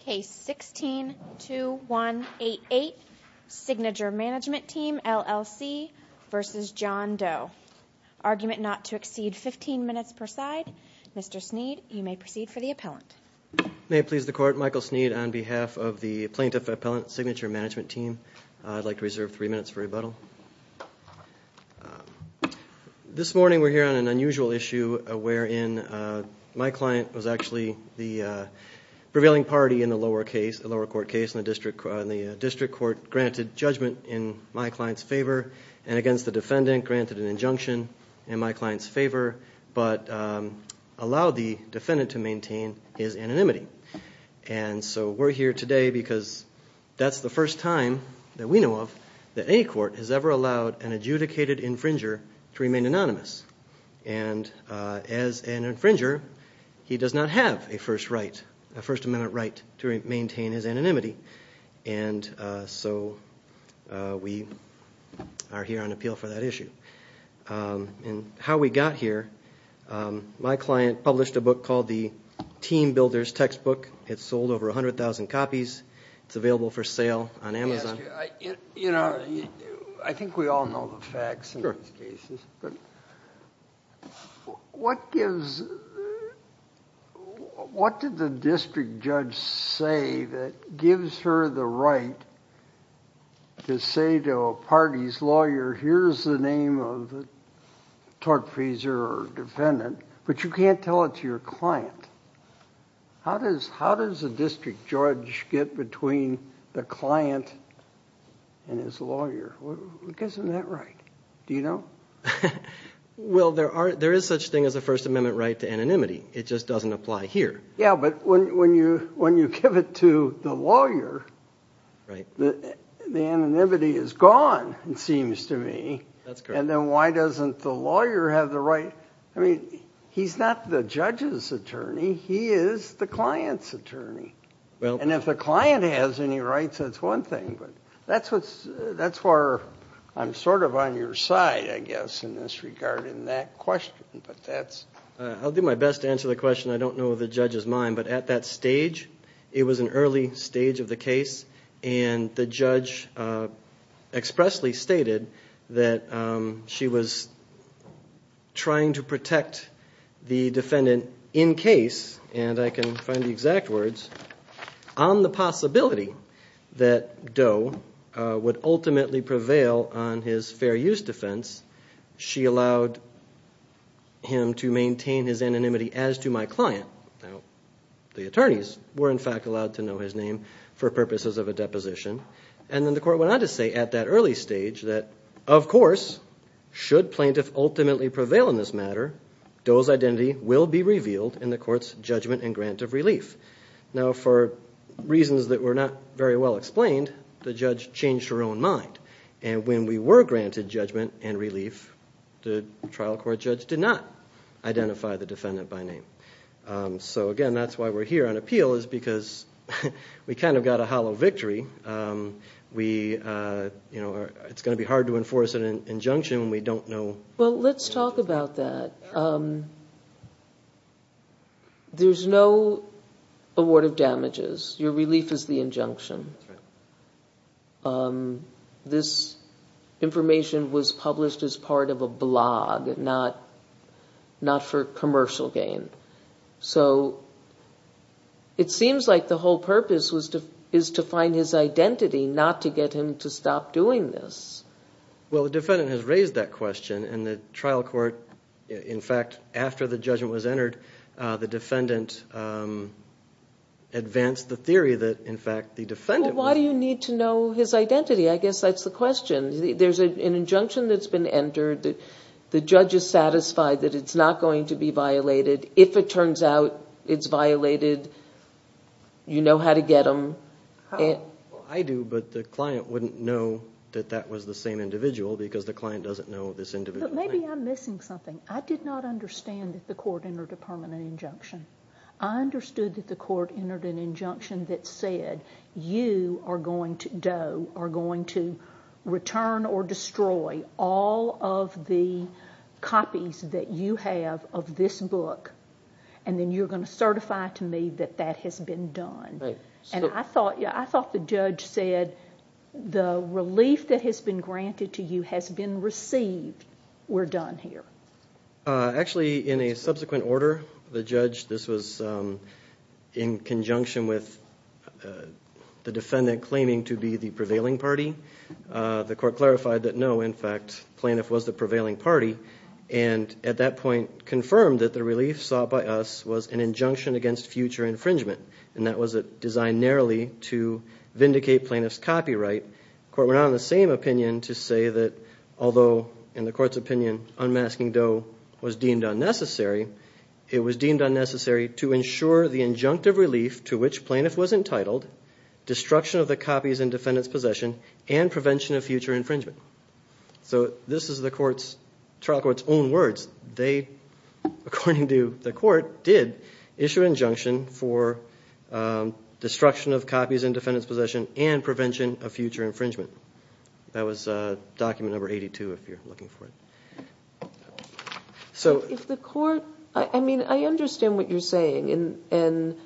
Case 16-2188 Signature Mgmt Team LLC v. John Doe Argument not to exceed 15 minutes per side. Mr. Sneed, you may proceed for the appellant. May it please the Court, Michael Sneed on behalf of the Plaintiff Appellant Signature Mgmt Team. I'd like to reserve 3 minutes for rebuttal. This morning we're here on an unusual issue wherein my client was actually the prevailing party in the lower court case. The district court granted judgment in my client's favor and against the defendant granted an injunction in my client's favor, but allowed the defendant to maintain his anonymity. And so we're here today because that's the first time that we know of that any court has ever allowed an adjudicated infringer to remain anonymous. And as an infringer, he does not have a First Amendment right to maintain his anonymity. And so we are here on appeal for that issue. And how we got here, my client published a book called The Team Builder's Textbook. It sold over 100,000 copies. It's available for sale on Amazon. I think we all know the facts in these cases, but what did the district judge say that gives her the right to say to a party's lawyer, here's the name of the tortfeasor or defendant, but you can't tell it to your client? How does a district judge get between the client and his lawyer? Isn't that right? Do you know? Well, there is such a thing as a First Amendment right to anonymity. It just doesn't apply here. Yeah, but when you give it to the lawyer, the anonymity is gone, it seems to me. And then why doesn't the lawyer have the right? I mean, he's not the judge's attorney. He is the client's attorney. And if the client has any rights, that's one thing. But that's where I'm sort of on your side, I guess, in this regard in that question. I'll do my best to answer the question. I don't know if the judge is mine, but at that stage, it was an early stage of the case, and the judge expressly stated that she was trying to protect the defendant in case, and I can find the exact words, on the possibility that Doe would ultimately prevail on his fair use defense, she allowed him to maintain his anonymity as to my client. Now, the attorneys were in fact allowed to know his name for purposes of a deposition. And then the court went on to say at that early stage that, of course, should plaintiff ultimately prevail in this matter, Doe's identity will be revealed in the court's judgment and grant of relief. Now, for reasons that were not very well explained, the judge changed her own mind. And when we were granted judgment and relief, the trial court judge did not identify the defendant by name. So again, that's why we're here on appeal, is because we kind of got a hollow victory. It's going to be hard to enforce an injunction when we don't know. Well, let's talk about that. There's no award of damages. Your relief is the injunction. This information was published as part of a blog, not for commercial gain. So it seems like the whole purpose is to find his identity, not to get him to stop doing this. Well, the defendant has raised that question. And the trial court, in fact, after the judgment was entered, the defendant advanced the theory that, in fact, the defendant was Well, why do you need to know his identity? I guess that's the question. There's an injunction that's been entered. The judge is satisfied that it's not going to be violated. If it turns out it's violated, you know how to get him. I do, but the client wouldn't know that that was the same individual because the client doesn't know this individual. Maybe I'm missing something. I did not understand that the court entered a permanent injunction. I understood that the court entered an injunction that said, Doe, you are going to return or destroy all of the copies that you have of this book, and then you're going to certify to me that that has been done. And I thought the judge said the relief that has been granted to you has been received. We're done here. Actually, in a subsequent order, the judge, this was in conjunction with the defendant claiming to be the prevailing party. The court clarified that, no, in fact, Plaintiff was the prevailing party and at that point confirmed that the relief sought by us was an injunction against future infringement. And that was designed narrowly to vindicate Plaintiff's copyright. The court went on the same opinion to say that although, in the court's opinion, unmasking Doe was deemed unnecessary, it was deemed unnecessary to ensure the injunctive relief to which Plaintiff was entitled, destruction of the copies in defendant's possession, and prevention of future infringement. So this is the trial court's own words. They, according to the court, did issue an injunction for destruction of copies in defendant's possession and prevention of future infringement. That was document number 82, if you're looking for it. I mean, I understand what you're saying. And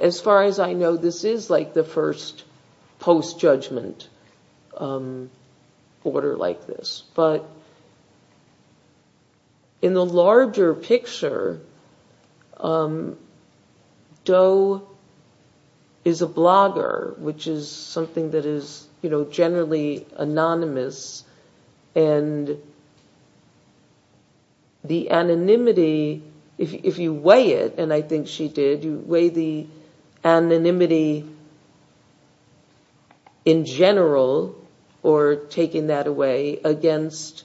as far as I know, this is like the first post-judgment order like this. But in the larger picture, Doe is a blogger, which is something that is generally anonymous. And the anonymity, if you weigh it, and I think she did, you weigh the anonymity in general, or taking that away against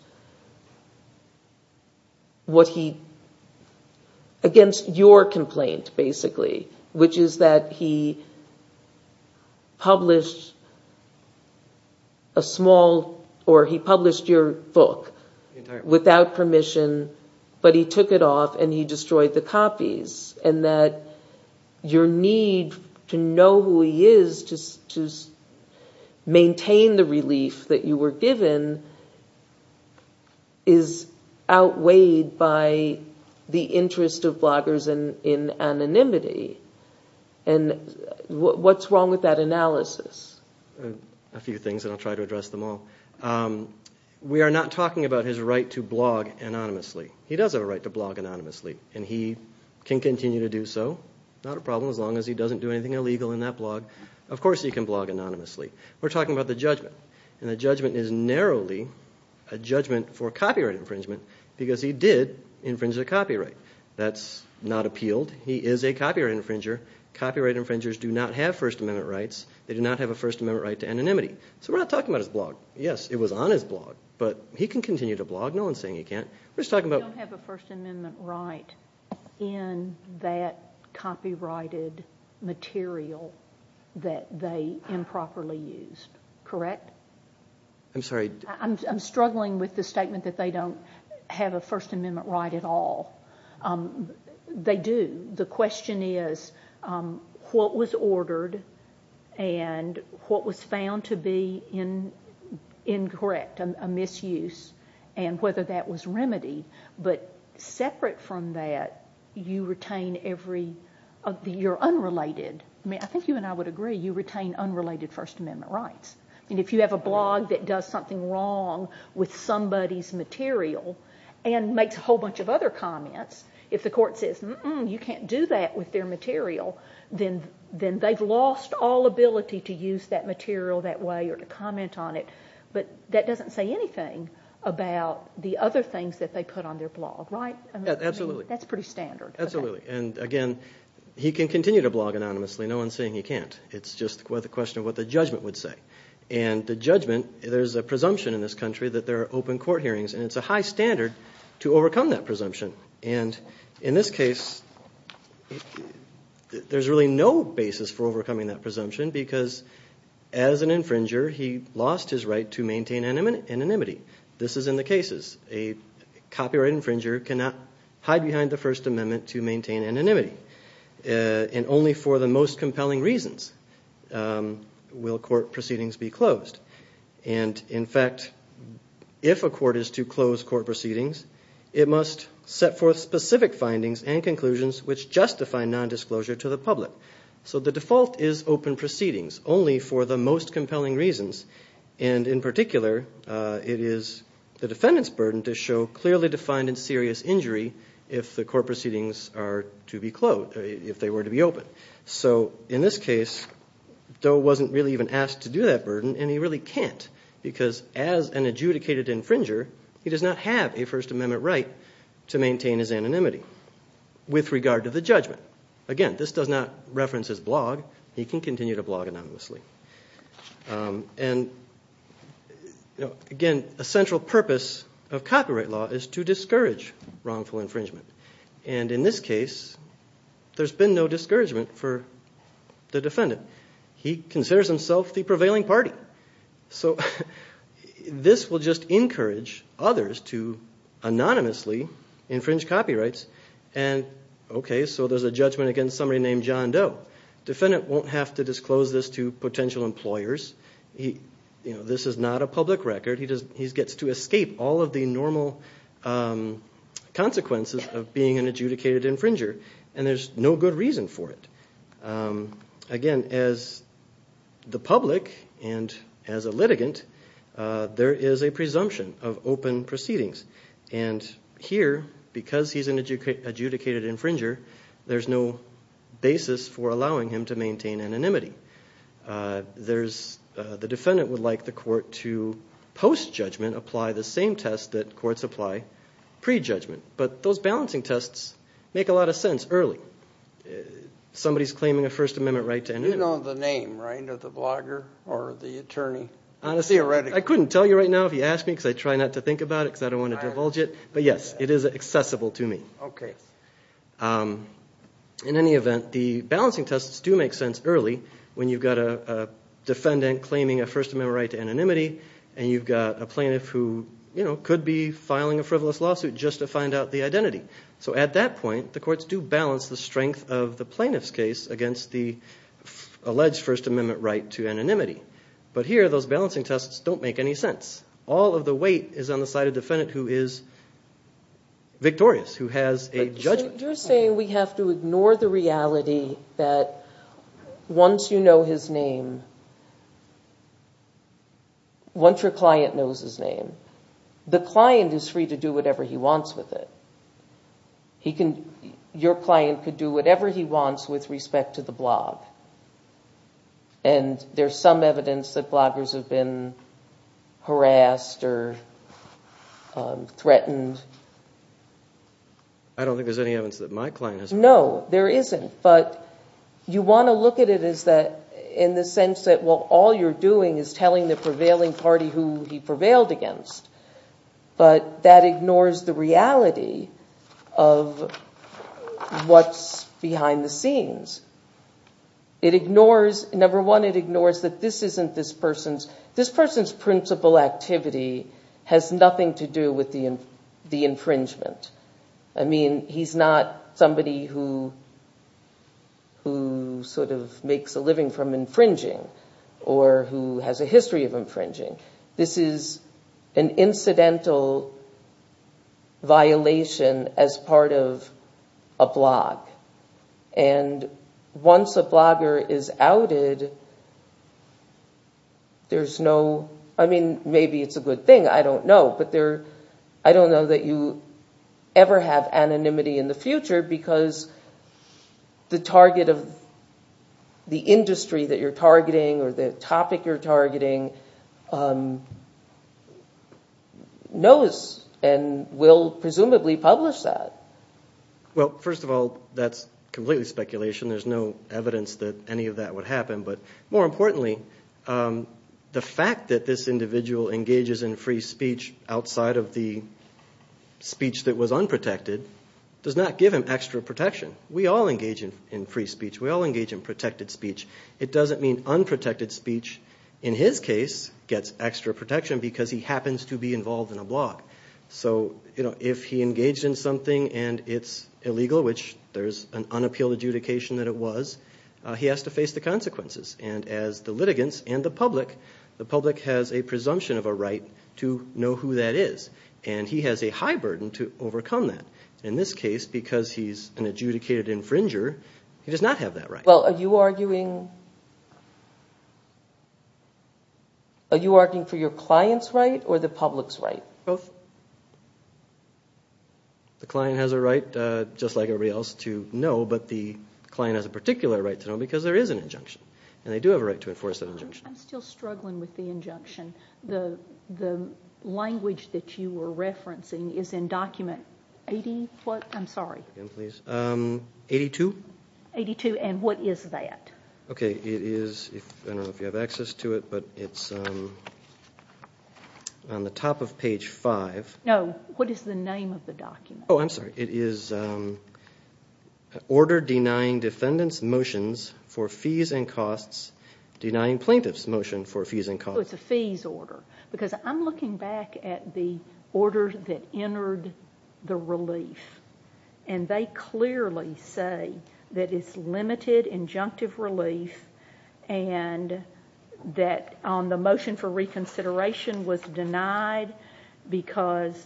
your complaint, basically, which is that he published a small, or he published your book without permission, but he took it off and he destroyed the copies. And that your need to know who he is to maintain the relief that you were given is outweighed by the interest of bloggers in anonymity. And what's wrong with that analysis? A few things, and I'll try to address them all. We are not talking about his right to blog anonymously. He does have a right to blog anonymously, and he can continue to do so. Not a problem as long as he doesn't do anything illegal in that blog. Of course he can blog anonymously. We're talking about the judgment, and the judgment is narrowly a judgment for copyright infringement because he did infringe the copyright. That's not appealed. He is a copyright infringer. Copyright infringers do not have First Amendment rights. They do not have a First Amendment right to anonymity. So we're not talking about his blog. Yes, it was on his blog, but he can continue to blog. We don't have a First Amendment right in that copyrighted material that they improperly used. Correct? I'm struggling with the statement that they don't have a First Amendment right at all. They do. The question is what was ordered and what was found to be incorrect, a misuse, and whether that was remedied. But separate from that, you retain every, you're unrelated. I think you and I would agree, you retain unrelated First Amendment rights. If you have a blog that does something wrong with somebody's material and makes a whole bunch of other comments, if the court says you can't do that with their material, then they've lost all ability to use that material that way or to comment on it. But that doesn't say anything about the other things that they put on their blog, right? Absolutely. That's pretty standard. Absolutely. And again, he can continue to blog anonymously. No one's saying he can't. It's just a question of what the judgment would say. And the judgment, there's a presumption in this country that there are open court hearings, and it's a high standard to overcome that presumption. And in this case, there's really no basis for overcoming that presumption because as an infringer, he lost his right to maintain anonymity. This is in the cases. A copyright infringer cannot hide behind the First Amendment to maintain anonymity. And only for the most compelling reasons will court proceedings be closed. And, in fact, if a court is to close court proceedings, it must set forth specific findings and conclusions which justify nondisclosure to the public. So the default is open proceedings only for the most compelling reasons. And in particular, it is the defendant's burden to show clearly defined and serious injury if the court proceedings are to be closed, if they were to be open. So in this case, Doe wasn't really even asked to do that burden, and he really can't because as an adjudicated infringer, he does not have a First Amendment right to maintain his anonymity with regard to the judgment. Again, this does not reference his blog. He can continue to blog anonymously. And, again, a central purpose of copyright law is to discourage wrongful infringement. And in this case, there's been no discouragement for the defendant. He considers himself the prevailing party. So this will just encourage others to anonymously infringe copyrights. Okay, so there's a judgment against somebody named John Doe. The defendant won't have to disclose this to potential employers. This is not a public record. He gets to escape all of the normal consequences of being an adjudicated infringer, and there's no good reason for it. Again, as the public and as a litigant, there is a presumption of open proceedings. And here, because he's an adjudicated infringer, there's no basis for allowing him to maintain anonymity. The defendant would like the court to, post-judgment, apply the same test that courts apply pre-judgment. But those balancing tests make a lot of sense early. Somebody's claiming a First Amendment right to anonymity. You know the name, right, of the blogger or the attorney? I couldn't tell you right now if you asked me because I try not to think about it because I don't want to divulge it, but yes, it is accessible to me. In any event, the balancing tests do make sense early when you've got a defendant claiming a First Amendment right to anonymity and you've got a plaintiff who could be filing a frivolous lawsuit just to find out the identity. So at that point, the courts do balance the strength of the plaintiff's case against the alleged First Amendment right to anonymity. But here, those balancing tests don't make any sense. All of the weight is on the side of the defendant who is victorious, who has a judgment. You're saying we have to ignore the reality that once you know his name, once your client knows his name, the client is free to do whatever he wants with it. Your client could do whatever he wants with respect to the blog. And there's some evidence that bloggers have been harassed or threatened. I don't think there's any evidence that my client has been harassed. No, there isn't, but you want to look at it in the sense that, well, all you're doing is telling the prevailing party who he prevailed against, but that ignores the reality of what's behind the scenes. It ignores, number one, it ignores that this isn't this person's, this person's principal activity has nothing to do with the infringement. I mean, he's not somebody who sort of makes a living from infringing or who has a history of infringing. This is an incidental violation as part of a blog. And once a blogger is outed, there's no, I mean, maybe it's a good thing. I don't know, but I don't know that you ever have anonymity in the future because the target of the industry that you're targeting or the topic you're targeting knows and will presumably publish that. Well, first of all, that's completely speculation. There's no evidence that any of that would happen. But more importantly, the fact that this individual engages in free speech outside of the speech that was unprotected does not give him extra protection. We all engage in free speech. We all engage in protected speech. It doesn't mean unprotected speech in his case gets extra protection because he happens to be involved in a blog. So if he engaged in something and it's illegal, which there's an unappealed adjudication that it was, he has to face the consequences. And as the litigants and the public, the public has a presumption of a right to know who that is, and he has a high burden to overcome that. In this case, because he's an adjudicated infringer, he does not have that right. Well, are you arguing for your client's right or the public's right? Both. The client has a right, just like everybody else, to know, but the client has a particular right to know because there is an injunction, and they do have a right to enforce that injunction. I'm still struggling with the injunction. The language that you were referencing is in document 80-what? I'm sorry. Again, please. 82? 82. And what is that? Okay. It is, I don't know if you have access to it, but it's on the top of page 5. No. What is the name of the document? Oh, I'm sorry. It is Order Denying Defendants Motions for Fees and Costs, Denying Plaintiffs Motion for Fees and Costs. Oh, it's a fees order. Because I'm looking back at the order that entered the relief, and they clearly say that it's limited injunctive relief and that the motion for reconsideration was denied because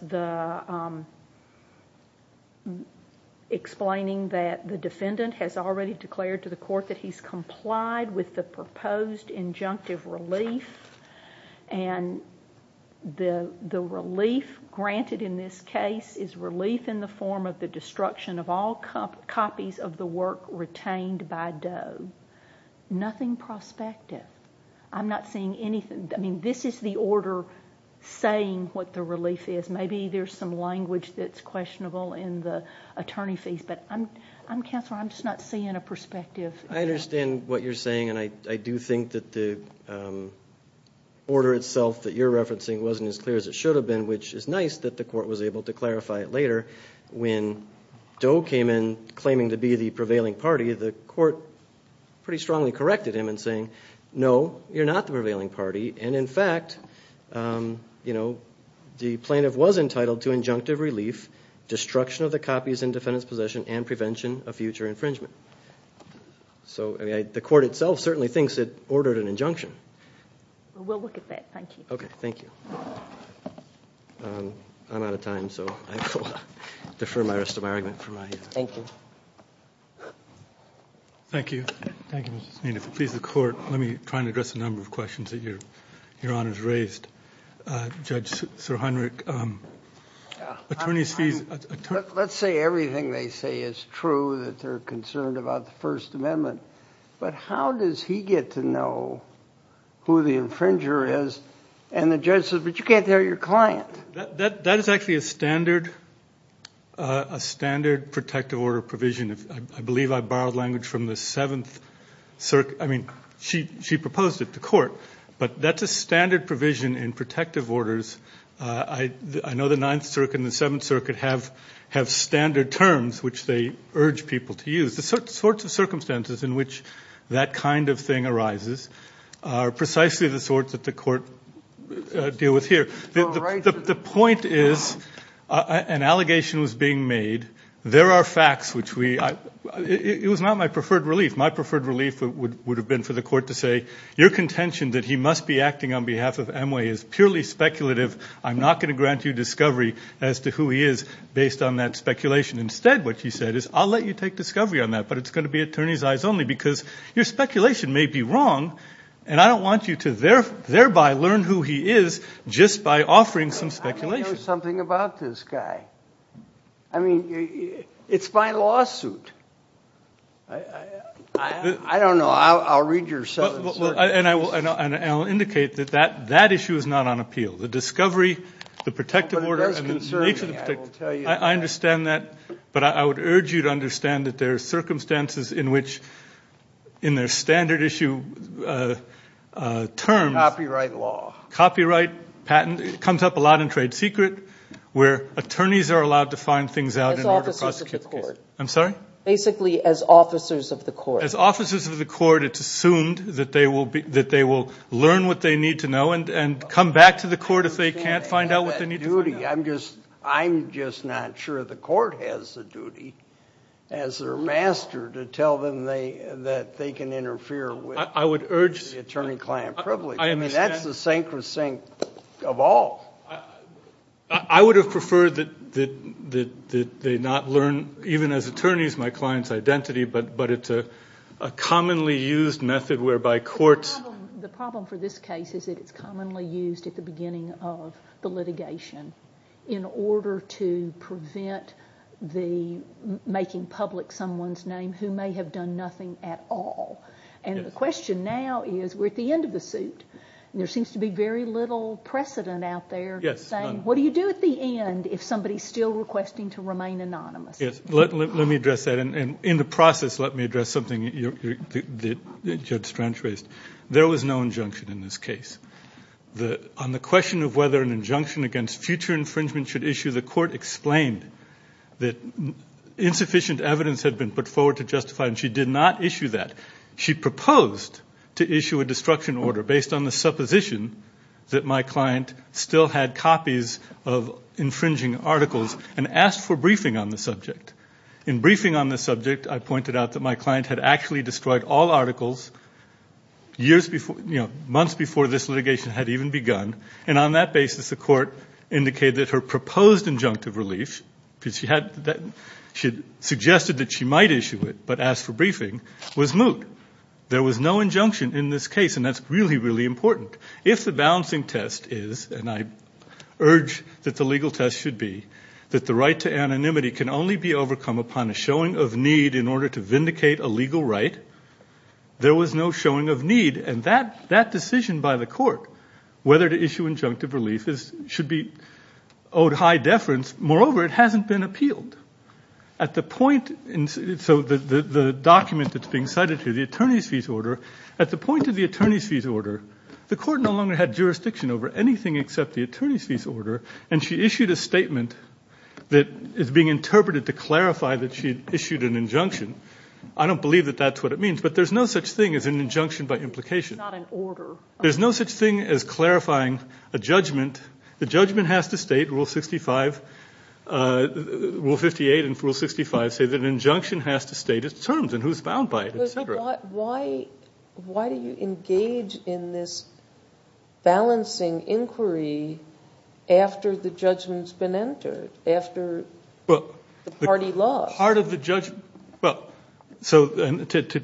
explaining that the defendant has already declared to the court that he's complied with the proposed injunctive relief, and the relief granted in this case is relief in the form of the destruction of all copies of the work retained by Doe. Nothing prospective. I'm not seeing anything. I mean, this is the order saying what the relief is. Maybe there's some language that's questionable in the attorney fees, but Counselor, I'm just not seeing a perspective. I understand what you're saying, and I do think that the order itself that you're referencing wasn't as clear as it should have been, which is nice that the court was able to clarify it later. When Doe came in claiming to be the prevailing party, the court pretty strongly corrected him in saying, no, you're not the prevailing party, and in fact the plaintiff was entitled to injunctive relief, destruction of the copies in defendant's possession, and prevention of future infringement. So the court itself certainly thinks it ordered an injunction. We'll look at that. Thank you. Okay. Thank you. I'm out of time, so I defer my rest of my argument. Thank you. Thank you. Thank you, Mr. Spina. If it pleases the court, Judge Sirhenrich, attorney's fees. Let's say everything they say is true, that they're concerned about the First Amendment, but how does he get to know who the infringer is, and the judge says, but you can't tell your client. That is actually a standard protective order provision. I believe I borrowed language from the Seventh Circuit. I mean, she proposed it to court, but that's a standard provision in protective orders. I know the Ninth Circuit and the Seventh Circuit have standard terms, which they urge people to use. The sorts of circumstances in which that kind of thing arises are precisely the sorts that the court deal with here. The point is an allegation was being made. There are facts which we – it was not my preferred relief. My preferred relief would have been for the court to say, your contention that he must be acting on behalf of Emway is purely speculative. I'm not going to grant you discovery as to who he is based on that speculation. Instead, what he said is, I'll let you take discovery on that, but it's going to be attorney's eyes only because your speculation may be wrong, and I don't want you to thereby learn who he is just by offering some speculation. I mean, there's something about this guy. I mean, it's my lawsuit. I don't know. Well, I'll read your Seventh Circuit case. And I'll indicate that that issue is not on appeal. The discovery, the protective order, and the nature of the – But it does concern me, I will tell you that. I understand that, but I would urge you to understand that there are circumstances in which, in their standard issue terms – Copyright law. Copyright, patent. It comes up a lot in trade secret, where attorneys are allowed to find things out in order to prosecute the case. As officers of the court. I'm sorry? Basically as officers of the court. As officers of the court, it's assumed that they will learn what they need to know and come back to the court if they can't find out what they need to know. I'm just not sure the court has the duty, as their master, to tell them that they can interfere with the attorney-client privilege. I understand. I mean, that's the sacrosanct of all. I would have preferred that they not learn, even as attorneys, my client's identity, but it's a commonly used method whereby courts – The problem for this case is that it's commonly used at the beginning of the litigation in order to prevent the making public someone's name who may have done nothing at all. And the question now is, we're at the end of the suit, and there seems to be very little precedent out there saying, what do you do at the end if somebody's still requesting to remain anonymous? Let me address that. And in the process, let me address something that Judge Strange raised. There was no injunction in this case. On the question of whether an injunction against future infringement should issue, the court explained that insufficient evidence had been put forward to justify it, and she did not issue that. She proposed to issue a destruction order based on the supposition that my client still had copies of infringing articles and asked for briefing on the subject. In briefing on the subject, I pointed out that my client had actually destroyed all articles months before this litigation had even begun, and on that basis the court indicated that her proposed injunctive relief, because she suggested that she might issue it but asked for briefing, was moot. There was no injunction in this case, and that's really, really important. If the balancing test is, and I urge that the legal test should be, that the right to anonymity can only be overcome upon a showing of need in order to vindicate a legal right, there was no showing of need. And that decision by the court, whether to issue injunctive relief, should be owed high deference. Moreover, it hasn't been appealed. So the document that's being cited here, the attorney's fees order, at the point of the attorney's fees order, the court no longer had jurisdiction over anything except the attorney's fees order, and she issued a statement that is being interpreted to clarify that she issued an injunction. I don't believe that that's what it means, but there's no such thing as an injunction by implication. It's not an order. There's no such thing as clarifying a judgment. The judgment has to state, Rule 58 and Rule 65, say that an injunction has to state its terms and who's bound by it, et cetera. Why do you engage in this balancing inquiry after the judgment's been entered, after the party lost? To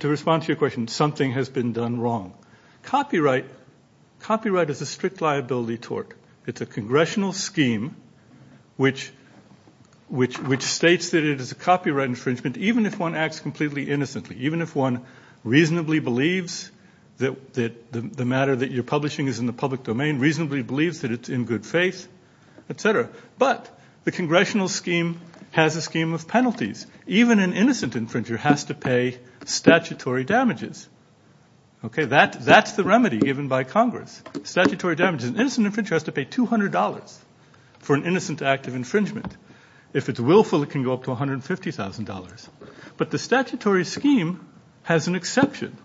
respond to your question, something has been done wrong. Copyright is a strict liability tort. It's a congressional scheme which states that it is a copyright infringement, even if one acts completely innocently, even if one reasonably believes that the matter that you're publishing is in the public domain, reasonably believes that it's in good faith, et cetera. But the congressional scheme has a scheme of penalties. Even an innocent infringer has to pay statutory damages. That's the remedy given by Congress, statutory damages. An innocent infringer has to pay $200 for an innocent act of infringement. If it's willful, it can go up to $150,000. But the statutory scheme has an exception.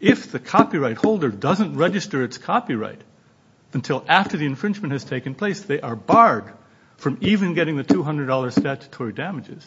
If the copyright holder doesn't register its copyright until after the infringement has taken place, they are barred from even getting the $200 statutory damages.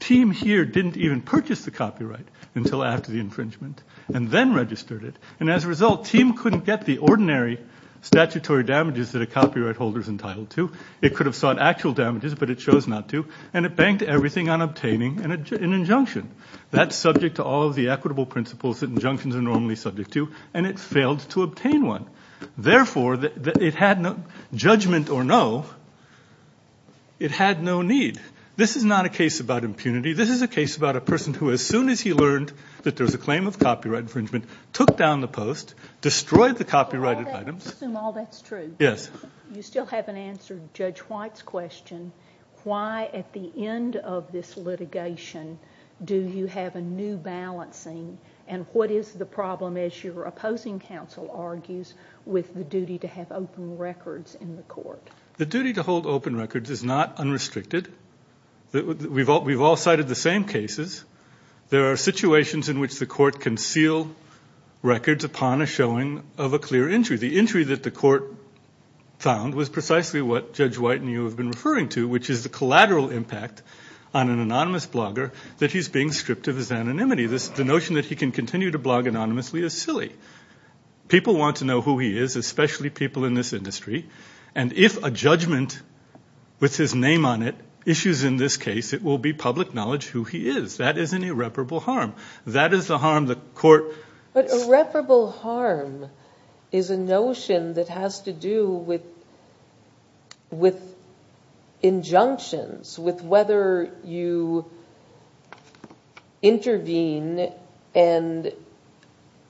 Team here didn't even purchase the copyright until after the infringement and then registered it. And as a result, Team couldn't get the ordinary statutory damages that a copyright holder is entitled to. It could have sought actual damages, but it chose not to. And it banked everything on obtaining an injunction. That's subject to all of the equitable principles that injunctions are normally subject to, and it failed to obtain one. Therefore, judgment or no, it had no need. This is not a case about impunity. This is a case about a person who, as soon as he learned that there was a claim of copyright infringement, took down the post, destroyed the copyrighted items. I assume all that's true. Yes. You still haven't answered Judge White's question. Why, at the end of this litigation, do you have a new balancing? And what is the problem, as your opposing counsel argues, with the duty to have open records in the court? The duty to hold open records is not unrestricted. We've all cited the same cases. There are situations in which the court can seal records upon a showing of a clear injury. The injury that the court found was precisely what Judge White and you have been referring to, which is the collateral impact on an anonymous blogger that he's being stripped of his anonymity. The notion that he can continue to blog anonymously is silly. People want to know who he is, especially people in this industry, and if a judgment with his name on it issues in this case, it will be public knowledge who he is. That is an irreparable harm. That is the harm the court— But irreparable harm is a notion that has to do with injunctions, with whether you intervene and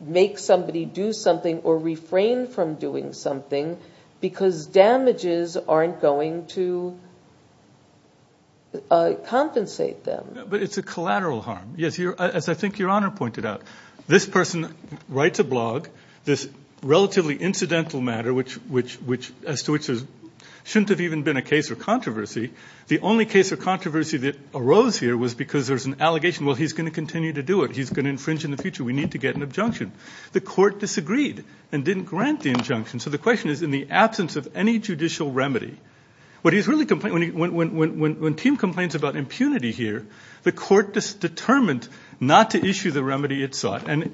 make somebody do something or refrain from doing something, because damages aren't going to compensate them. But it's a collateral harm. As I think Your Honor pointed out, this person writes a blog, this relatively incidental matter as to which there shouldn't have even been a case or controversy. The only case or controversy that arose here was because there's an allegation, well, he's going to continue to do it. He's going to infringe in the future. We need to get an injunction. The court disagreed and didn't grant the injunction. So the question is, in the absence of any judicial remedy, when Tim complains about impunity here, the court determined not to issue the remedy it sought and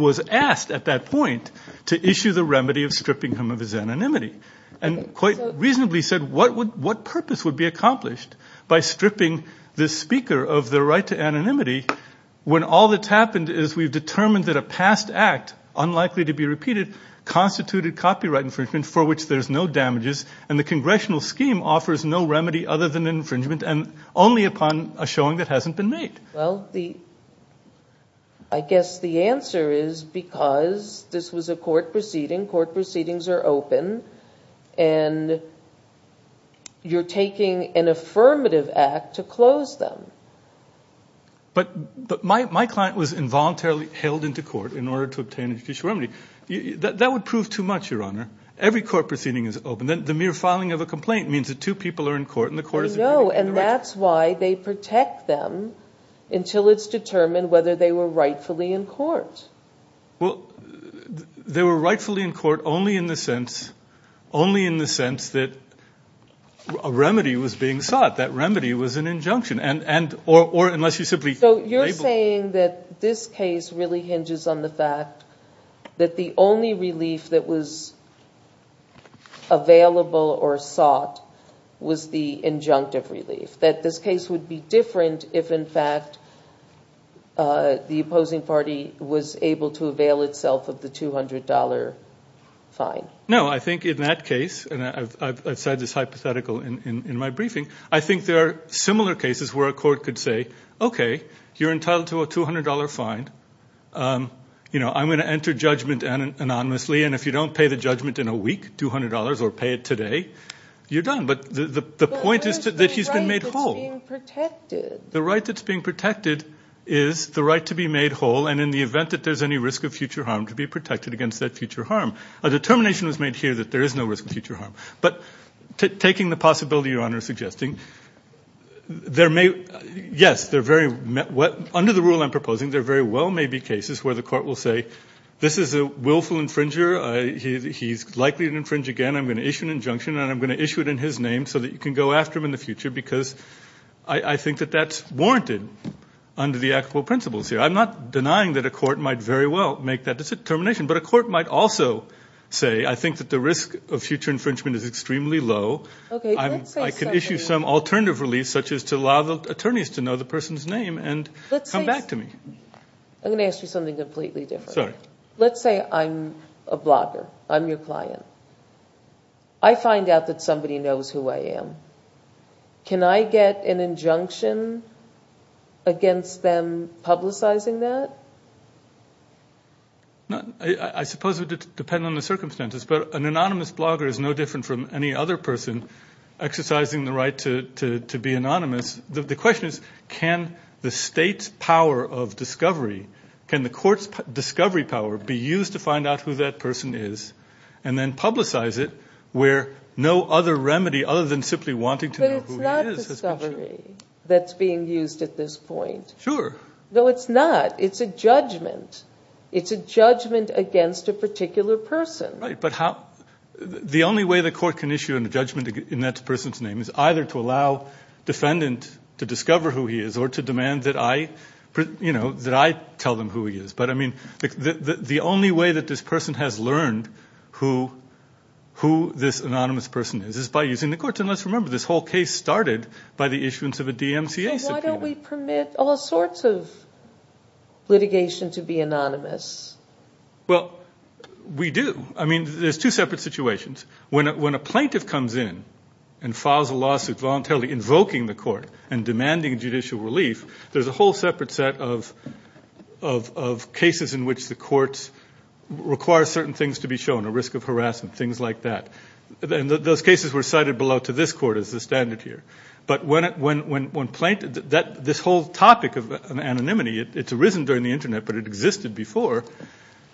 was asked at that point to issue the remedy of stripping him of his anonymity and quite reasonably said, what purpose would be accomplished by stripping this speaker of the right to anonymity when all that's happened is we've determined that a past act, unlikely to be repeated, constituted copyright infringement for which there's no damages and the congressional scheme offers no remedy other than infringement and only upon a showing that hasn't been made? Well, I guess the answer is because this was a court proceeding, court proceedings are open, and you're taking an affirmative act to close them. But my client was involuntarily held into court in order to obtain a judicial remedy. That would prove too much, Your Honor. Every court proceeding is open. The mere filing of a complaint means that two people are in court and the court is agreeing to the right. No, and that's why they protect them until it's determined whether they were rightfully in court. Well, they were rightfully in court only in the sense that a remedy was being sought. That remedy was an injunction. So you're saying that this case really hinges on the fact that the only relief that was available or sought was the injunctive relief, that this case would be different if, in fact, the opposing party was able to avail itself of the $200 fine. No, I think in that case, and I've said this hypothetical in my briefing, I think there are similar cases where a court could say, okay, you're entitled to a $200 fine. I'm going to enter judgment anonymously, and if you don't pay the judgment in a week, $200, or pay it today, you're done. But the point is that he's been made whole. But what is the right that's being protected? The right that's being protected is the right to be made whole, and in the event that there's any risk of future harm, to be protected against that future harm. A determination was made here that there is no risk of future harm. But taking the possibility Your Honor is suggesting, yes, under the rule I'm proposing, there very well may be cases where the court will say, this is a willful infringer. He's likely to infringe again. I'm going to issue an injunction, and I'm going to issue it in his name so that you can go after him in the future because I think that that's warranted under the actual principles here. I'm not denying that a court might very well make that determination, but a court might also say, I think that the risk of future infringement is extremely low. I can issue some alternative release, such as to allow the attorneys to know the person's name and come back to me. I'm going to ask you something completely different. Let's say I'm a blogger. I'm your client. I find out that somebody knows who I am. Can I get an injunction against them publicizing that? I suppose it would depend on the circumstances, but an anonymous blogger is no different from any other person exercising the right to be anonymous. The question is, can the state's power of discovery, can the court's discovery power be used to find out who that person is and then publicize it where no other remedy, other than simply wanting to know who he is. But it's not discovery that's being used at this point. Sure. No, it's not. It's a judgment. It's a judgment against a particular person. Right. But the only way the court can issue a judgment in that person's name is either to allow defendant to discover who he is or to demand that I tell them who he is. But the only way that this person has learned who this anonymous person is is by using the courts. And let's remember, this whole case started by the issuance of a DMCA subpoena. So why don't we permit all sorts of litigation to be anonymous? Well, we do. I mean, there's two separate situations. When a plaintiff comes in and files a lawsuit voluntarily invoking the court and demanding judicial relief, there's a whole separate set of cases in which the courts require certain things to be shown, a risk of harassment, things like that. And those cases were cited below to this court as the standard here. But this whole topic of anonymity, it's arisen during the Internet, but it existed before,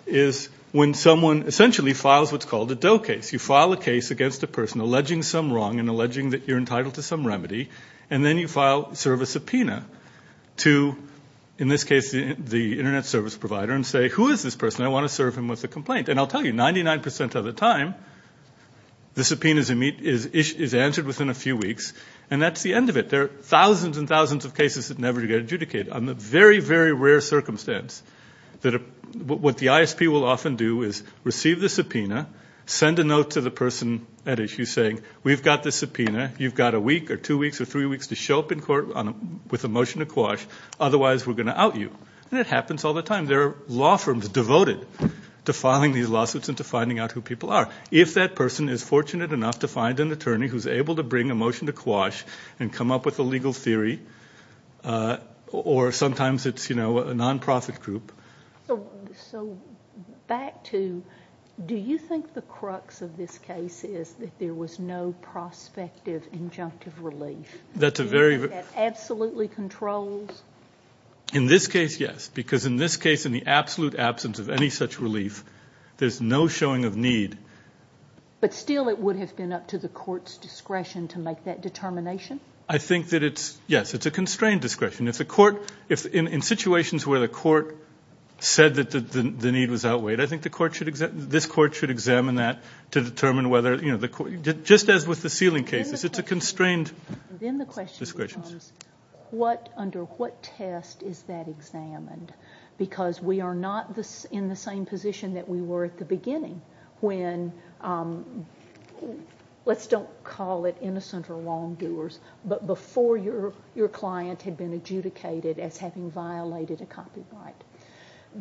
is when someone essentially files what's called a Doe case. You file a case against a person alleging some wrong and alleging that you're entitled to some remedy, and then you file, serve a subpoena to, in this case, the Internet service provider and say, Who is this person? I want to serve him with a complaint. And I'll tell you, 99% of the time, the subpoena is answered within a few weeks and that's the end of it. There are thousands and thousands of cases that never get adjudicated. On the very, very rare circumstance, what the ISP will often do is receive the subpoena, send a note to the person at issue saying, We've got the subpoena. You've got a week or two weeks or three weeks to show up in court with a motion to quash, otherwise we're going to out you. And it happens all the time. There are law firms devoted to filing these lawsuits and to finding out who people are. If that person is fortunate enough to find an attorney who's able to bring a motion to quash and come up with a legal theory, or sometimes it's a non-profit group. So back to, do you think the crux of this case is that there was no prospective injunctive relief? That's a very... That absolutely controls? In this case, yes, because in this case in the absolute absence of any such relief, there's no showing of need. But still it would have been up to the court's discretion to make that determination? I think that it's, yes, it's a constrained discretion. If the court, in situations where the court said that the need was outweighed, I think this court should examine that to determine whether, you know, just as with the ceiling cases, it's a constrained discretion. Then the question becomes, under what test is that examined? Because we are not in the same position that we were at the beginning when, let's don't call it innocent or wrongdoers, but before your client had been adjudicated as having violated a copyright.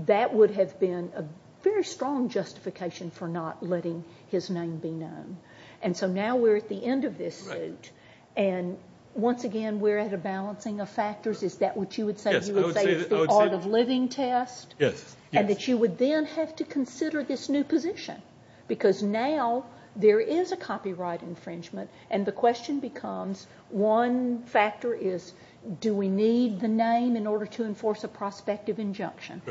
That would have been a very strong justification for not letting his name be known. And so now we're at the end of this suit, and once again we're at a balancing of factors. Is that what you would say? Yes, I would say that. You would say it's the art of living test? Yes, yes. And that you would then have to consider this new position, because now there is a copyright infringement, and the question becomes, one factor is, do we need the name in order to enforce a prospective injunction?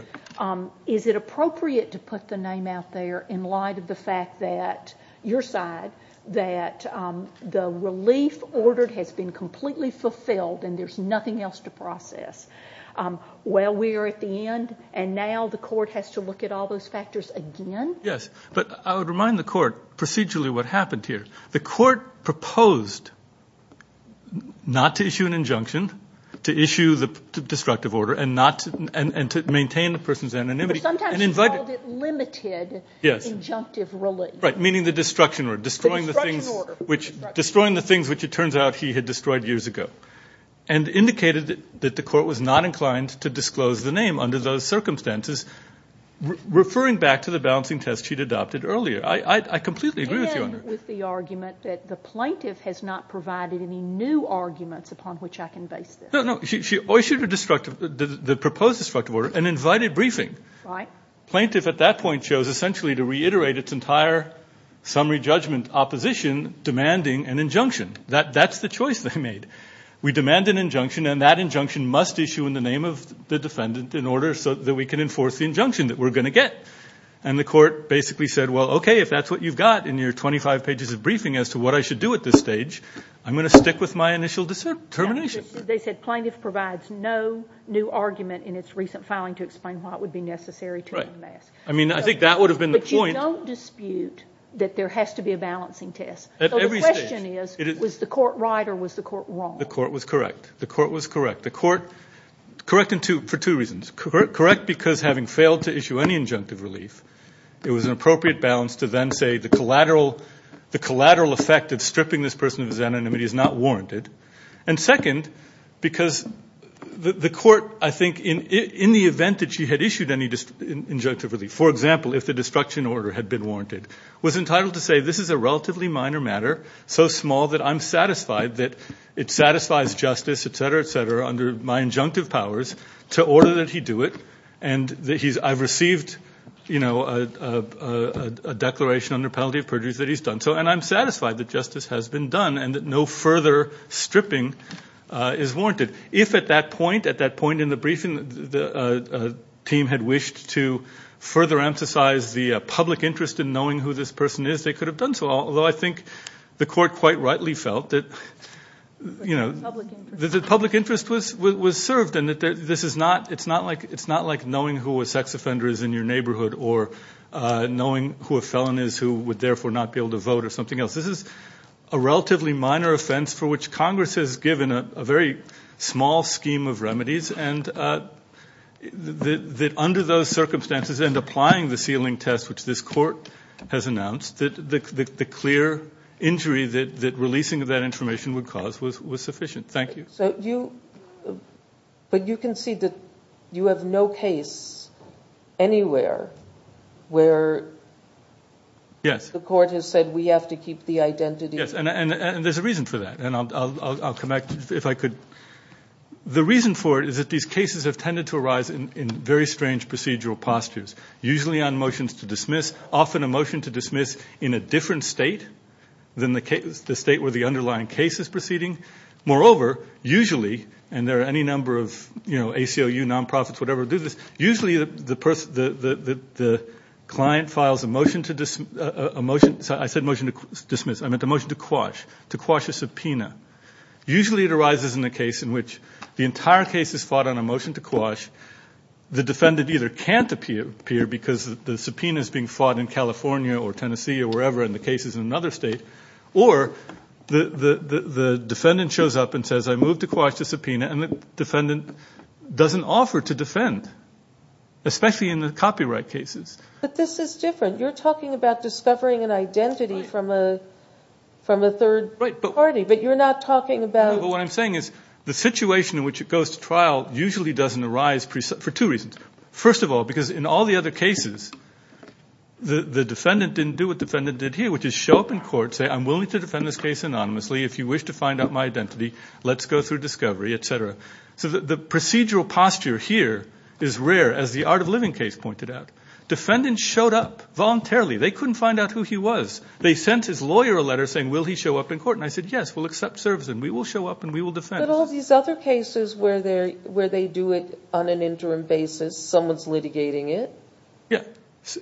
Is it appropriate to put the name out there in light of the fact that, your side, that the relief ordered has been completely fulfilled and there's nothing else to process? Well, we are at the end, and now the court has to look at all those factors again? Yes, but I would remind the court procedurally what happened here. The court proposed not to issue an injunction, to issue the destructive order, and to maintain the person's anonymity. But sometimes you called it limited injunctive relief. Right, meaning the destruction order, destroying the things which it turns out he had destroyed years ago, and indicated that the court was not inclined to disclose the name under those circumstances, referring back to the balancing test she'd adopted earlier. I completely agree with you on that. And with the argument that the plaintiff has not provided any new arguments upon which I can base this. No, no. She issued a destructive, the proposed destructive order, an invited briefing. Right. Plaintiff, at that point, chose essentially to reiterate its entire summary judgment opposition, demanding an injunction. That's the choice they made. We demand an injunction, and that injunction must issue in the name of the defendant in order so that we can enforce the injunction that we're going to get. And the court basically said, well, okay, if that's what you've got in your 25 pages of briefing as to what I should do at this stage, I'm going to stick with my initial determination. They said plaintiff provides no new argument in its recent filing to explain why it would be necessary to unmask. Right. I mean, I think that would have been the point. But you don't dispute that there has to be a balancing test. At every stage. The question is, was the court right or was the court wrong? The court was correct. The court was correct. The court, correct for two reasons. Correct because having failed to issue any injunctive relief, it was an appropriate balance to then say the collateral effect of stripping this person of his anonymity is not warranted. And second, because the court, I think, in the event that she had issued any injunctive relief, for example, if the destruction order had been warranted, was entitled to say this is a relatively minor matter, so small that I'm satisfied that it satisfies justice, etc., etc., under my injunctive powers to order that he do it and that I've received a declaration under penalty of perjury that he's done so and I'm satisfied that justice has been done and that no further stripping is warranted. If at that point, at that point in the briefing, the team had wished to further emphasize the public interest in knowing who this person is, they could have done so, although I think the court quite rightly felt that, you know, that the public interest was served and that this is not, it's not like knowing who a sex offender is in your neighborhood or knowing who a felon is who would therefore not be able to vote or something else. This is a relatively minor offense for which Congress has given a very small scheme of remedies and that under those circumstances and applying the ceiling test which this court has announced, the clear injury that releasing of that information would cause was sufficient. Thank you. But you can see that you have no case anywhere where the court has said we have to keep the identity. Yes, and there's a reason for that, and I'll come back if I could. The reason for it is that these cases have tended to arise in very strange procedural postures, usually on motions to dismiss, often a motion to dismiss in a different state than the state where the underlying case is proceeding. Moreover, usually, and there are any number of, you know, ACLU, nonprofits, whatever do this, usually the client files a motion to dismiss, I meant a motion to quash, to quash a subpoena. Usually it arises in a case in which the entire case is fought on a motion to quash. The defendant either can't appear because the subpoena is being fought in California or Tennessee or wherever, and the case is in another state, or the defendant shows up and says I moved to quash the subpoena and the defendant doesn't offer to defend, especially in the copyright cases. But this is different. You're talking about discovering an identity from a third party, but you're not talking about. No, but what I'm saying is the situation in which it goes to trial usually doesn't arise for two reasons. First of all, because in all the other cases, the defendant didn't do what the defendant did here, which is show up in court, say I'm willing to defend this case anonymously if you wish to find out my identity, let's go through discovery, et cetera. So the procedural posture here is rare, as the Art of Living case pointed out. Defendants showed up voluntarily. They couldn't find out who he was. They sent his lawyer a letter saying will he show up in court, and I said yes, we'll accept service and we will show up and we will defend. But all these other cases where they do it on an interim basis, someone's litigating it? Yeah.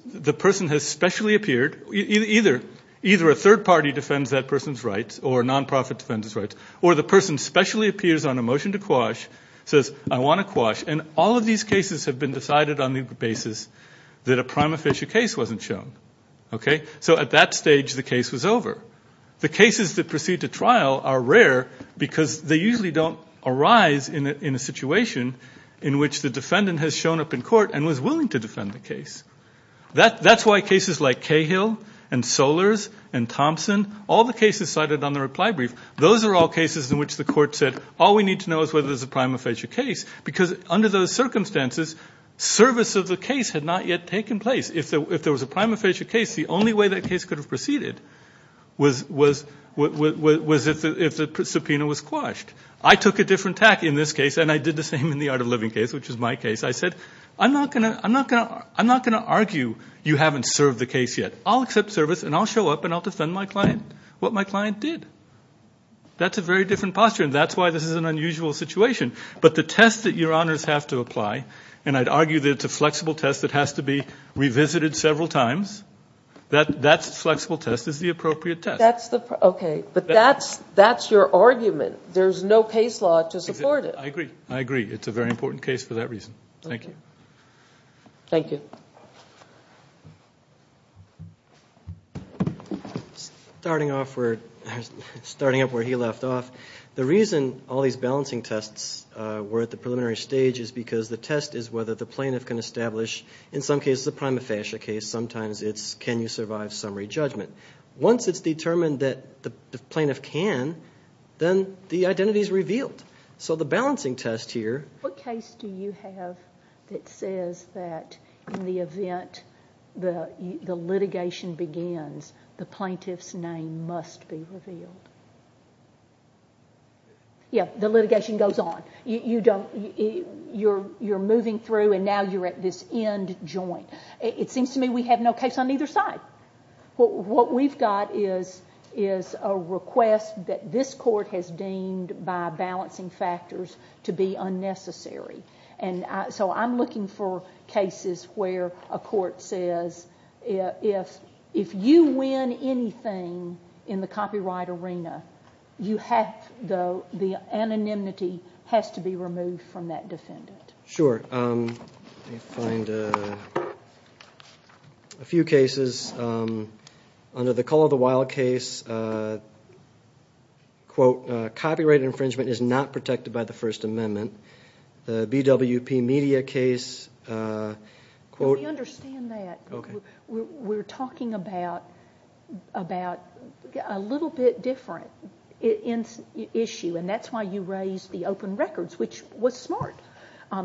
The person has specially appeared. Either a third party defends that person's rights or a nonprofit defends its rights, or the person specially appears on a motion to quash, says I want to quash, and all of these cases have been decided on the basis that a prime official case wasn't shown. So at that stage, the case was over. The cases that proceed to trial are rare because they usually don't arise in a situation in which the defendant has shown up in court and was willing to defend the case. That's why cases like Cahill and Solers and Thompson, all the cases cited on the reply brief, those are all cases in which the court said all we need to know is whether there's a prime official case, because under those circumstances, service of the case had not yet taken place. If there was a prime official case, the only way that case could have proceeded was if the subpoena was quashed. I took a different tack in this case, and I did the same in the Art of Living case, which is my case. I said I'm not going to argue you haven't served the case yet. I'll accept service, and I'll show up, and I'll defend what my client did. That's a very different posture, and that's why this is an unusual situation. But the test that your honors have to apply, and I'd argue that it's a flexible test that has to be revisited several times, that that flexible test is the appropriate test. Okay, but that's your argument. There's no case law to support it. I agree. I agree. It's a very important case for that reason. Thank you. Thank you. Starting off where he left off, the reason all these balancing tests were at the preliminary stage is because the test is whether the plaintiff can establish, in some cases a prima facie case, sometimes it's can you survive summary judgment. Once it's determined that the plaintiff can, then the identity is revealed. So the balancing test here— What case do you have that says that in the event the litigation begins, the plaintiff's name must be revealed? Yeah, the litigation goes on. You're moving through and now you're at this end joint. It seems to me we have no case on either side. What we've got is a request that this court has deemed by balancing factors to be unnecessary. So I'm looking for cases where a court says if you win anything in the copyright arena, the anonymity has to be removed from that defendant. Sure. Let me find a few cases. Under the Call of the Wild case, quote, copyright infringement is not protected by the First Amendment. The BWP Media case, quote— We understand that. We're talking about a little bit different issue, and that's why you raised the open records, which was smart.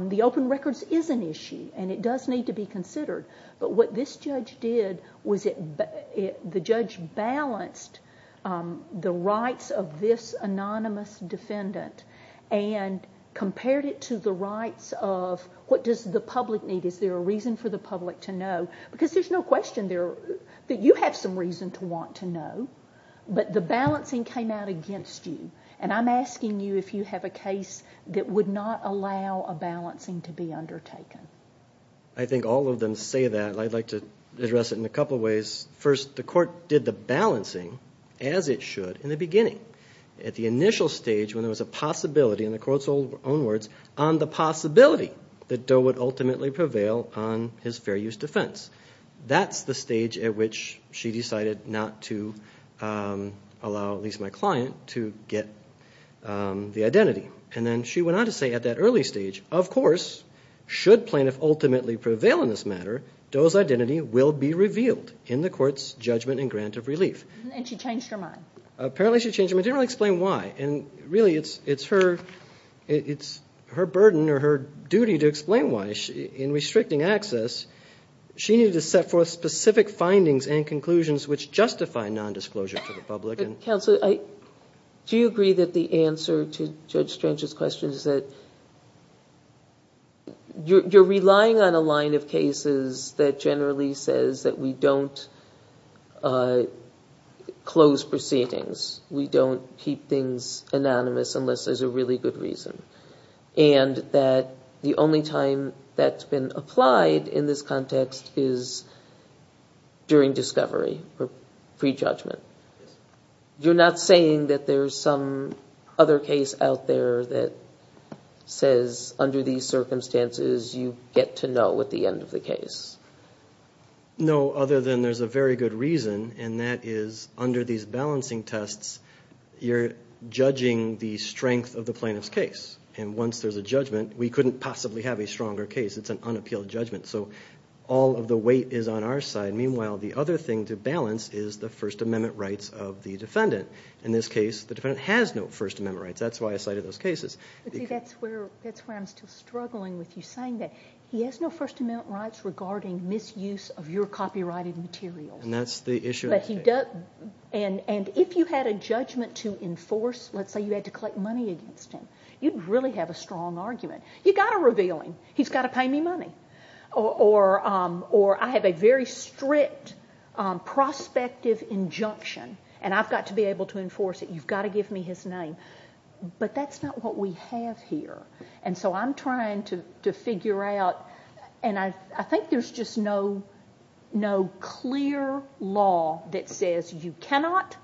The open records is an issue, and it does need to be considered. But what this judge did was the judge balanced the rights of this anonymous defendant and compared it to the rights of what does the public need? Is there a reason for the public to know? Because there's no question that you have some reason to want to know, but the balancing came out against you, and I'm asking you if you have a case that would not allow a balancing to be undertaken. I think all of them say that, and I'd like to address it in a couple of ways. First, the court did the balancing as it should in the beginning. At the initial stage when there was a possibility, in the court's own words, on the possibility that Doe would ultimately prevail on his fair use defense. That's the stage at which she decided not to allow at least my client to get the identity. And then she went on to say at that early stage, of course, should plaintiff ultimately prevail in this matter, Doe's identity will be revealed in the court's judgment and grant of relief. Apparently she changed her mind. She didn't really explain why. And really it's her burden or her duty to explain why. In restricting access, she needed to set forth specific findings and conclusions which justify nondisclosure to the public. Counsel, do you agree that the answer to Judge Strange's question is that you're relying on a line of cases that generally says that we don't close proceedings, we don't keep things anonymous unless there's a really good reason, and that the only time that's been applied in this context is during discovery or prejudgment? You're not saying that there's some other case out there that says under these circumstances you get to know at the end of the case? No, other than there's a very good reason, and that is under these balancing tests, you're judging the strength of the plaintiff's case. And once there's a judgment, we couldn't possibly have a stronger case. It's an unappealed judgment. So all of the weight is on our side. Meanwhile, the other thing to balance is the First Amendment rights of the defendant. In this case, the defendant has no First Amendment rights. That's why I cited those cases. That's where I'm still struggling with you, saying that he has no First Amendment rights regarding misuse of your copyrighted materials. And that's the issue. And if you had a judgment to enforce, let's say you had to collect money against him, you'd really have a strong argument. You've got to reveal him. He's got to pay me money. Or I have a very strict prospective injunction, and I've got to be able to enforce it. You've got to give me his name. But that's not what we have here. And so I'm trying to figure out, and I think there's just no clear law that says you cannot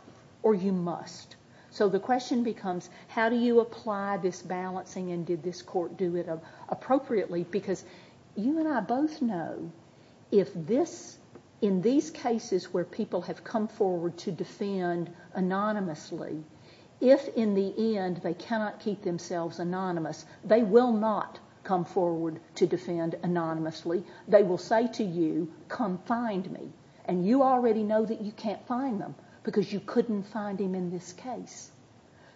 or you must. So the question becomes, how do you apply this balancing, and did this court do it appropriately? Because you and I both know if this, in these cases where people have come forward to defend anonymously, if in the end they cannot keep themselves anonymous, they will not come forward to defend anonymously. They will say to you, come find me. And you already know that you can't find them because you couldn't find him in this case.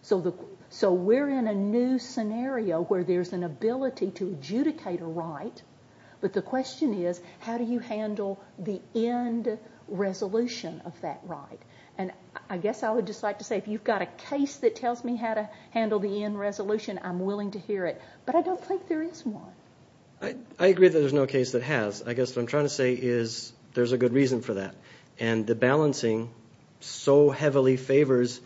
So we're in a new scenario where there's an ability to adjudicate a right, but the question is, how do you handle the end resolution of that right? And I guess I would just like to say, if you've got a case that tells me how to handle the end resolution, I'm willing to hear it. But I don't think there is one. I agree that there's no case that has. I guess what I'm trying to say is there's a good reason for that. And the balancing so heavily favors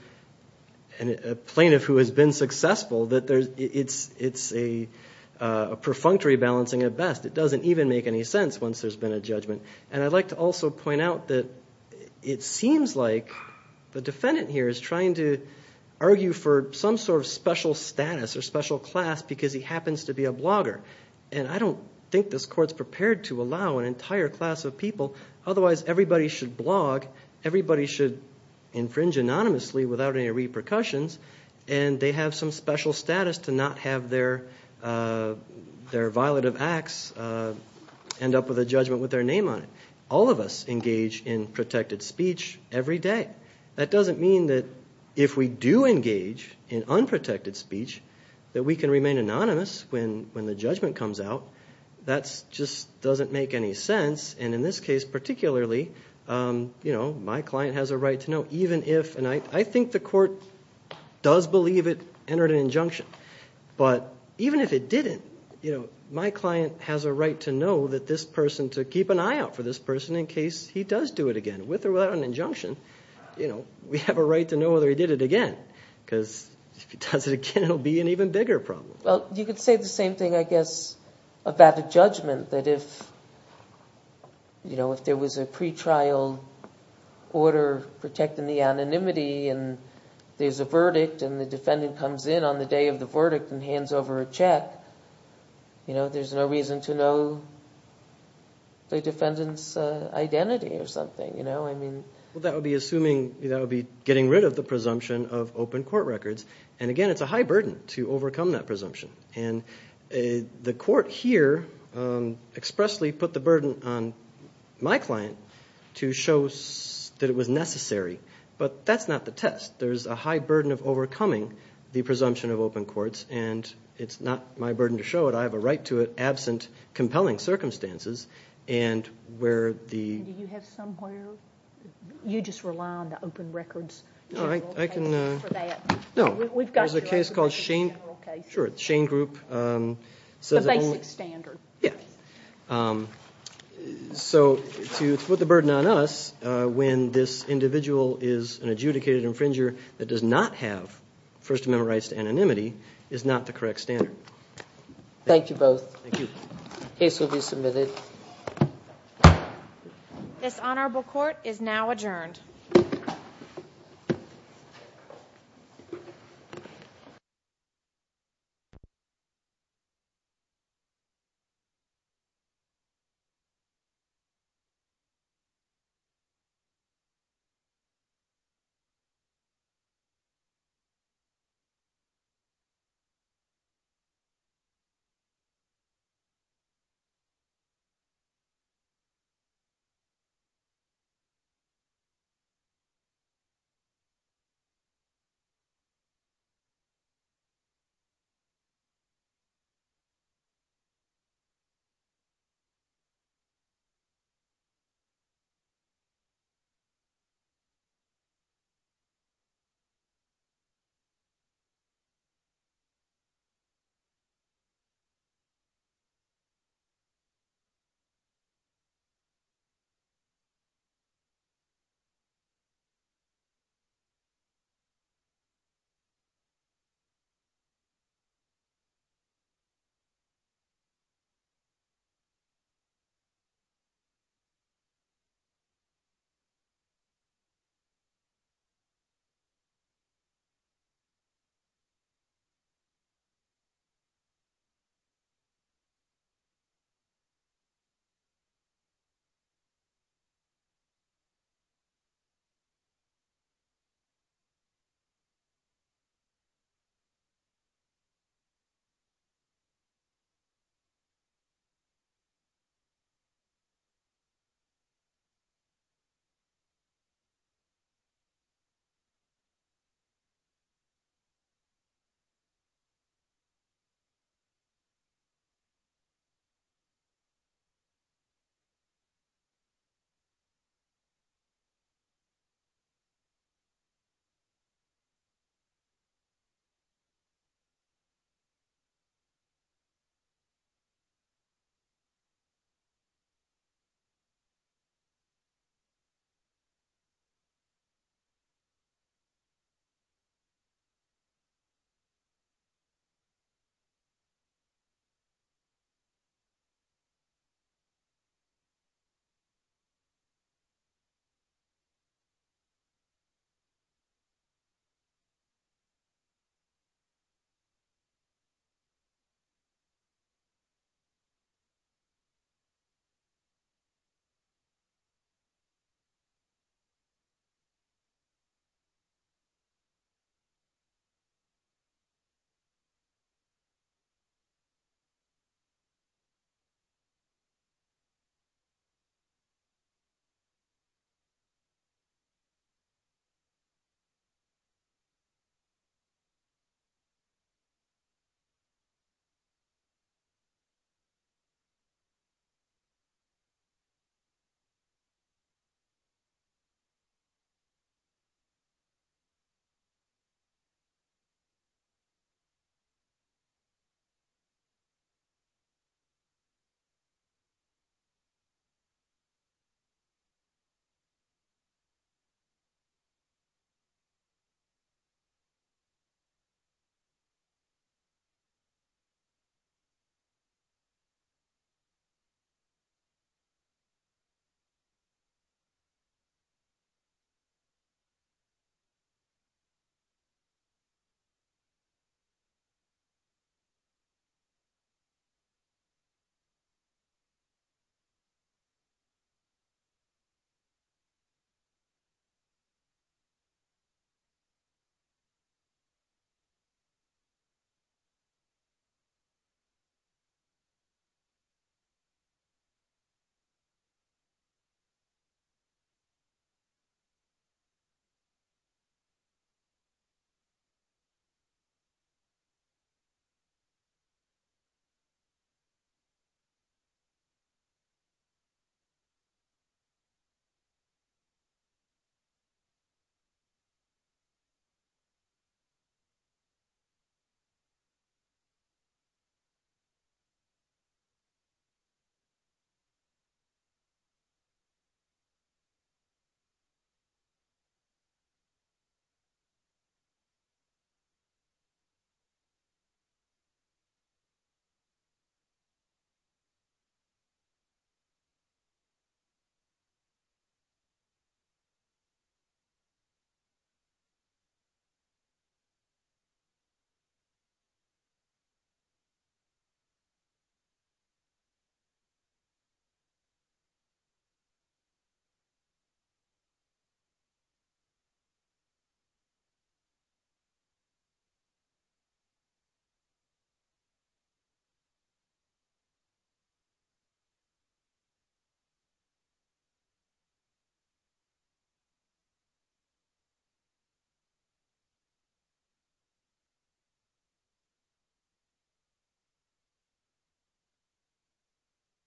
a plaintiff who has been successful that it's a perfunctory balancing at best. It doesn't even make any sense once there's been a judgment. And I'd like to also point out that it seems like the defendant here is trying to argue for some sort of special status or special class because he happens to be a blogger. And I don't think this court's prepared to allow an entire class of people, otherwise everybody should blog, everybody should infringe anonymously without any repercussions, and they have some special status to not have their violative acts end up with a judgment with their name on it. All of us engage in protected speech every day. That doesn't mean that if we do engage in unprotected speech that we can remain anonymous when the judgment comes out. That just doesn't make any sense. And in this case particularly, my client has a right to know, even if, and I think the court does believe it entered an injunction, but even if it didn't, my client has a right to know that this person, to keep an eye out for this person in case he does do it again, with or without an injunction. We have a right to know whether he did it again because if he does it again, it'll be an even bigger problem. Well, you could say the same thing, I guess, about a judgment, that if there was a pretrial order protecting the anonymity and there's a verdict and the defendant comes in on the day of the verdict and hands over a check, there's no reason to know the defendant's identity or something. Well, that would be assuming, that would be getting rid of the presumption of open court records. And again, it's a high burden to overcome that presumption. And the court here expressly put the burden on my client to show that it was necessary. But that's not the test. There's a high burden of overcoming the presumption of open courts, and it's not my burden to show it. I have a right to it absent compelling circumstances. And where the... Do you have somewhere? You just rely on the open records general case for that. No, there's a case called Shane Group. The basic standard. Yeah. So to put the burden on us when this individual is an adjudicated infringer that does not have First Amendment rights to anonymity is not the correct standard. Thank you both. Thank you. The case will be submitted. This honorable court is now adjourned. Thank you. Thank you. Thank you. Thank you. Thank you. Thank you. Thank you. Thank you. Thank you. Thank you. Thank you.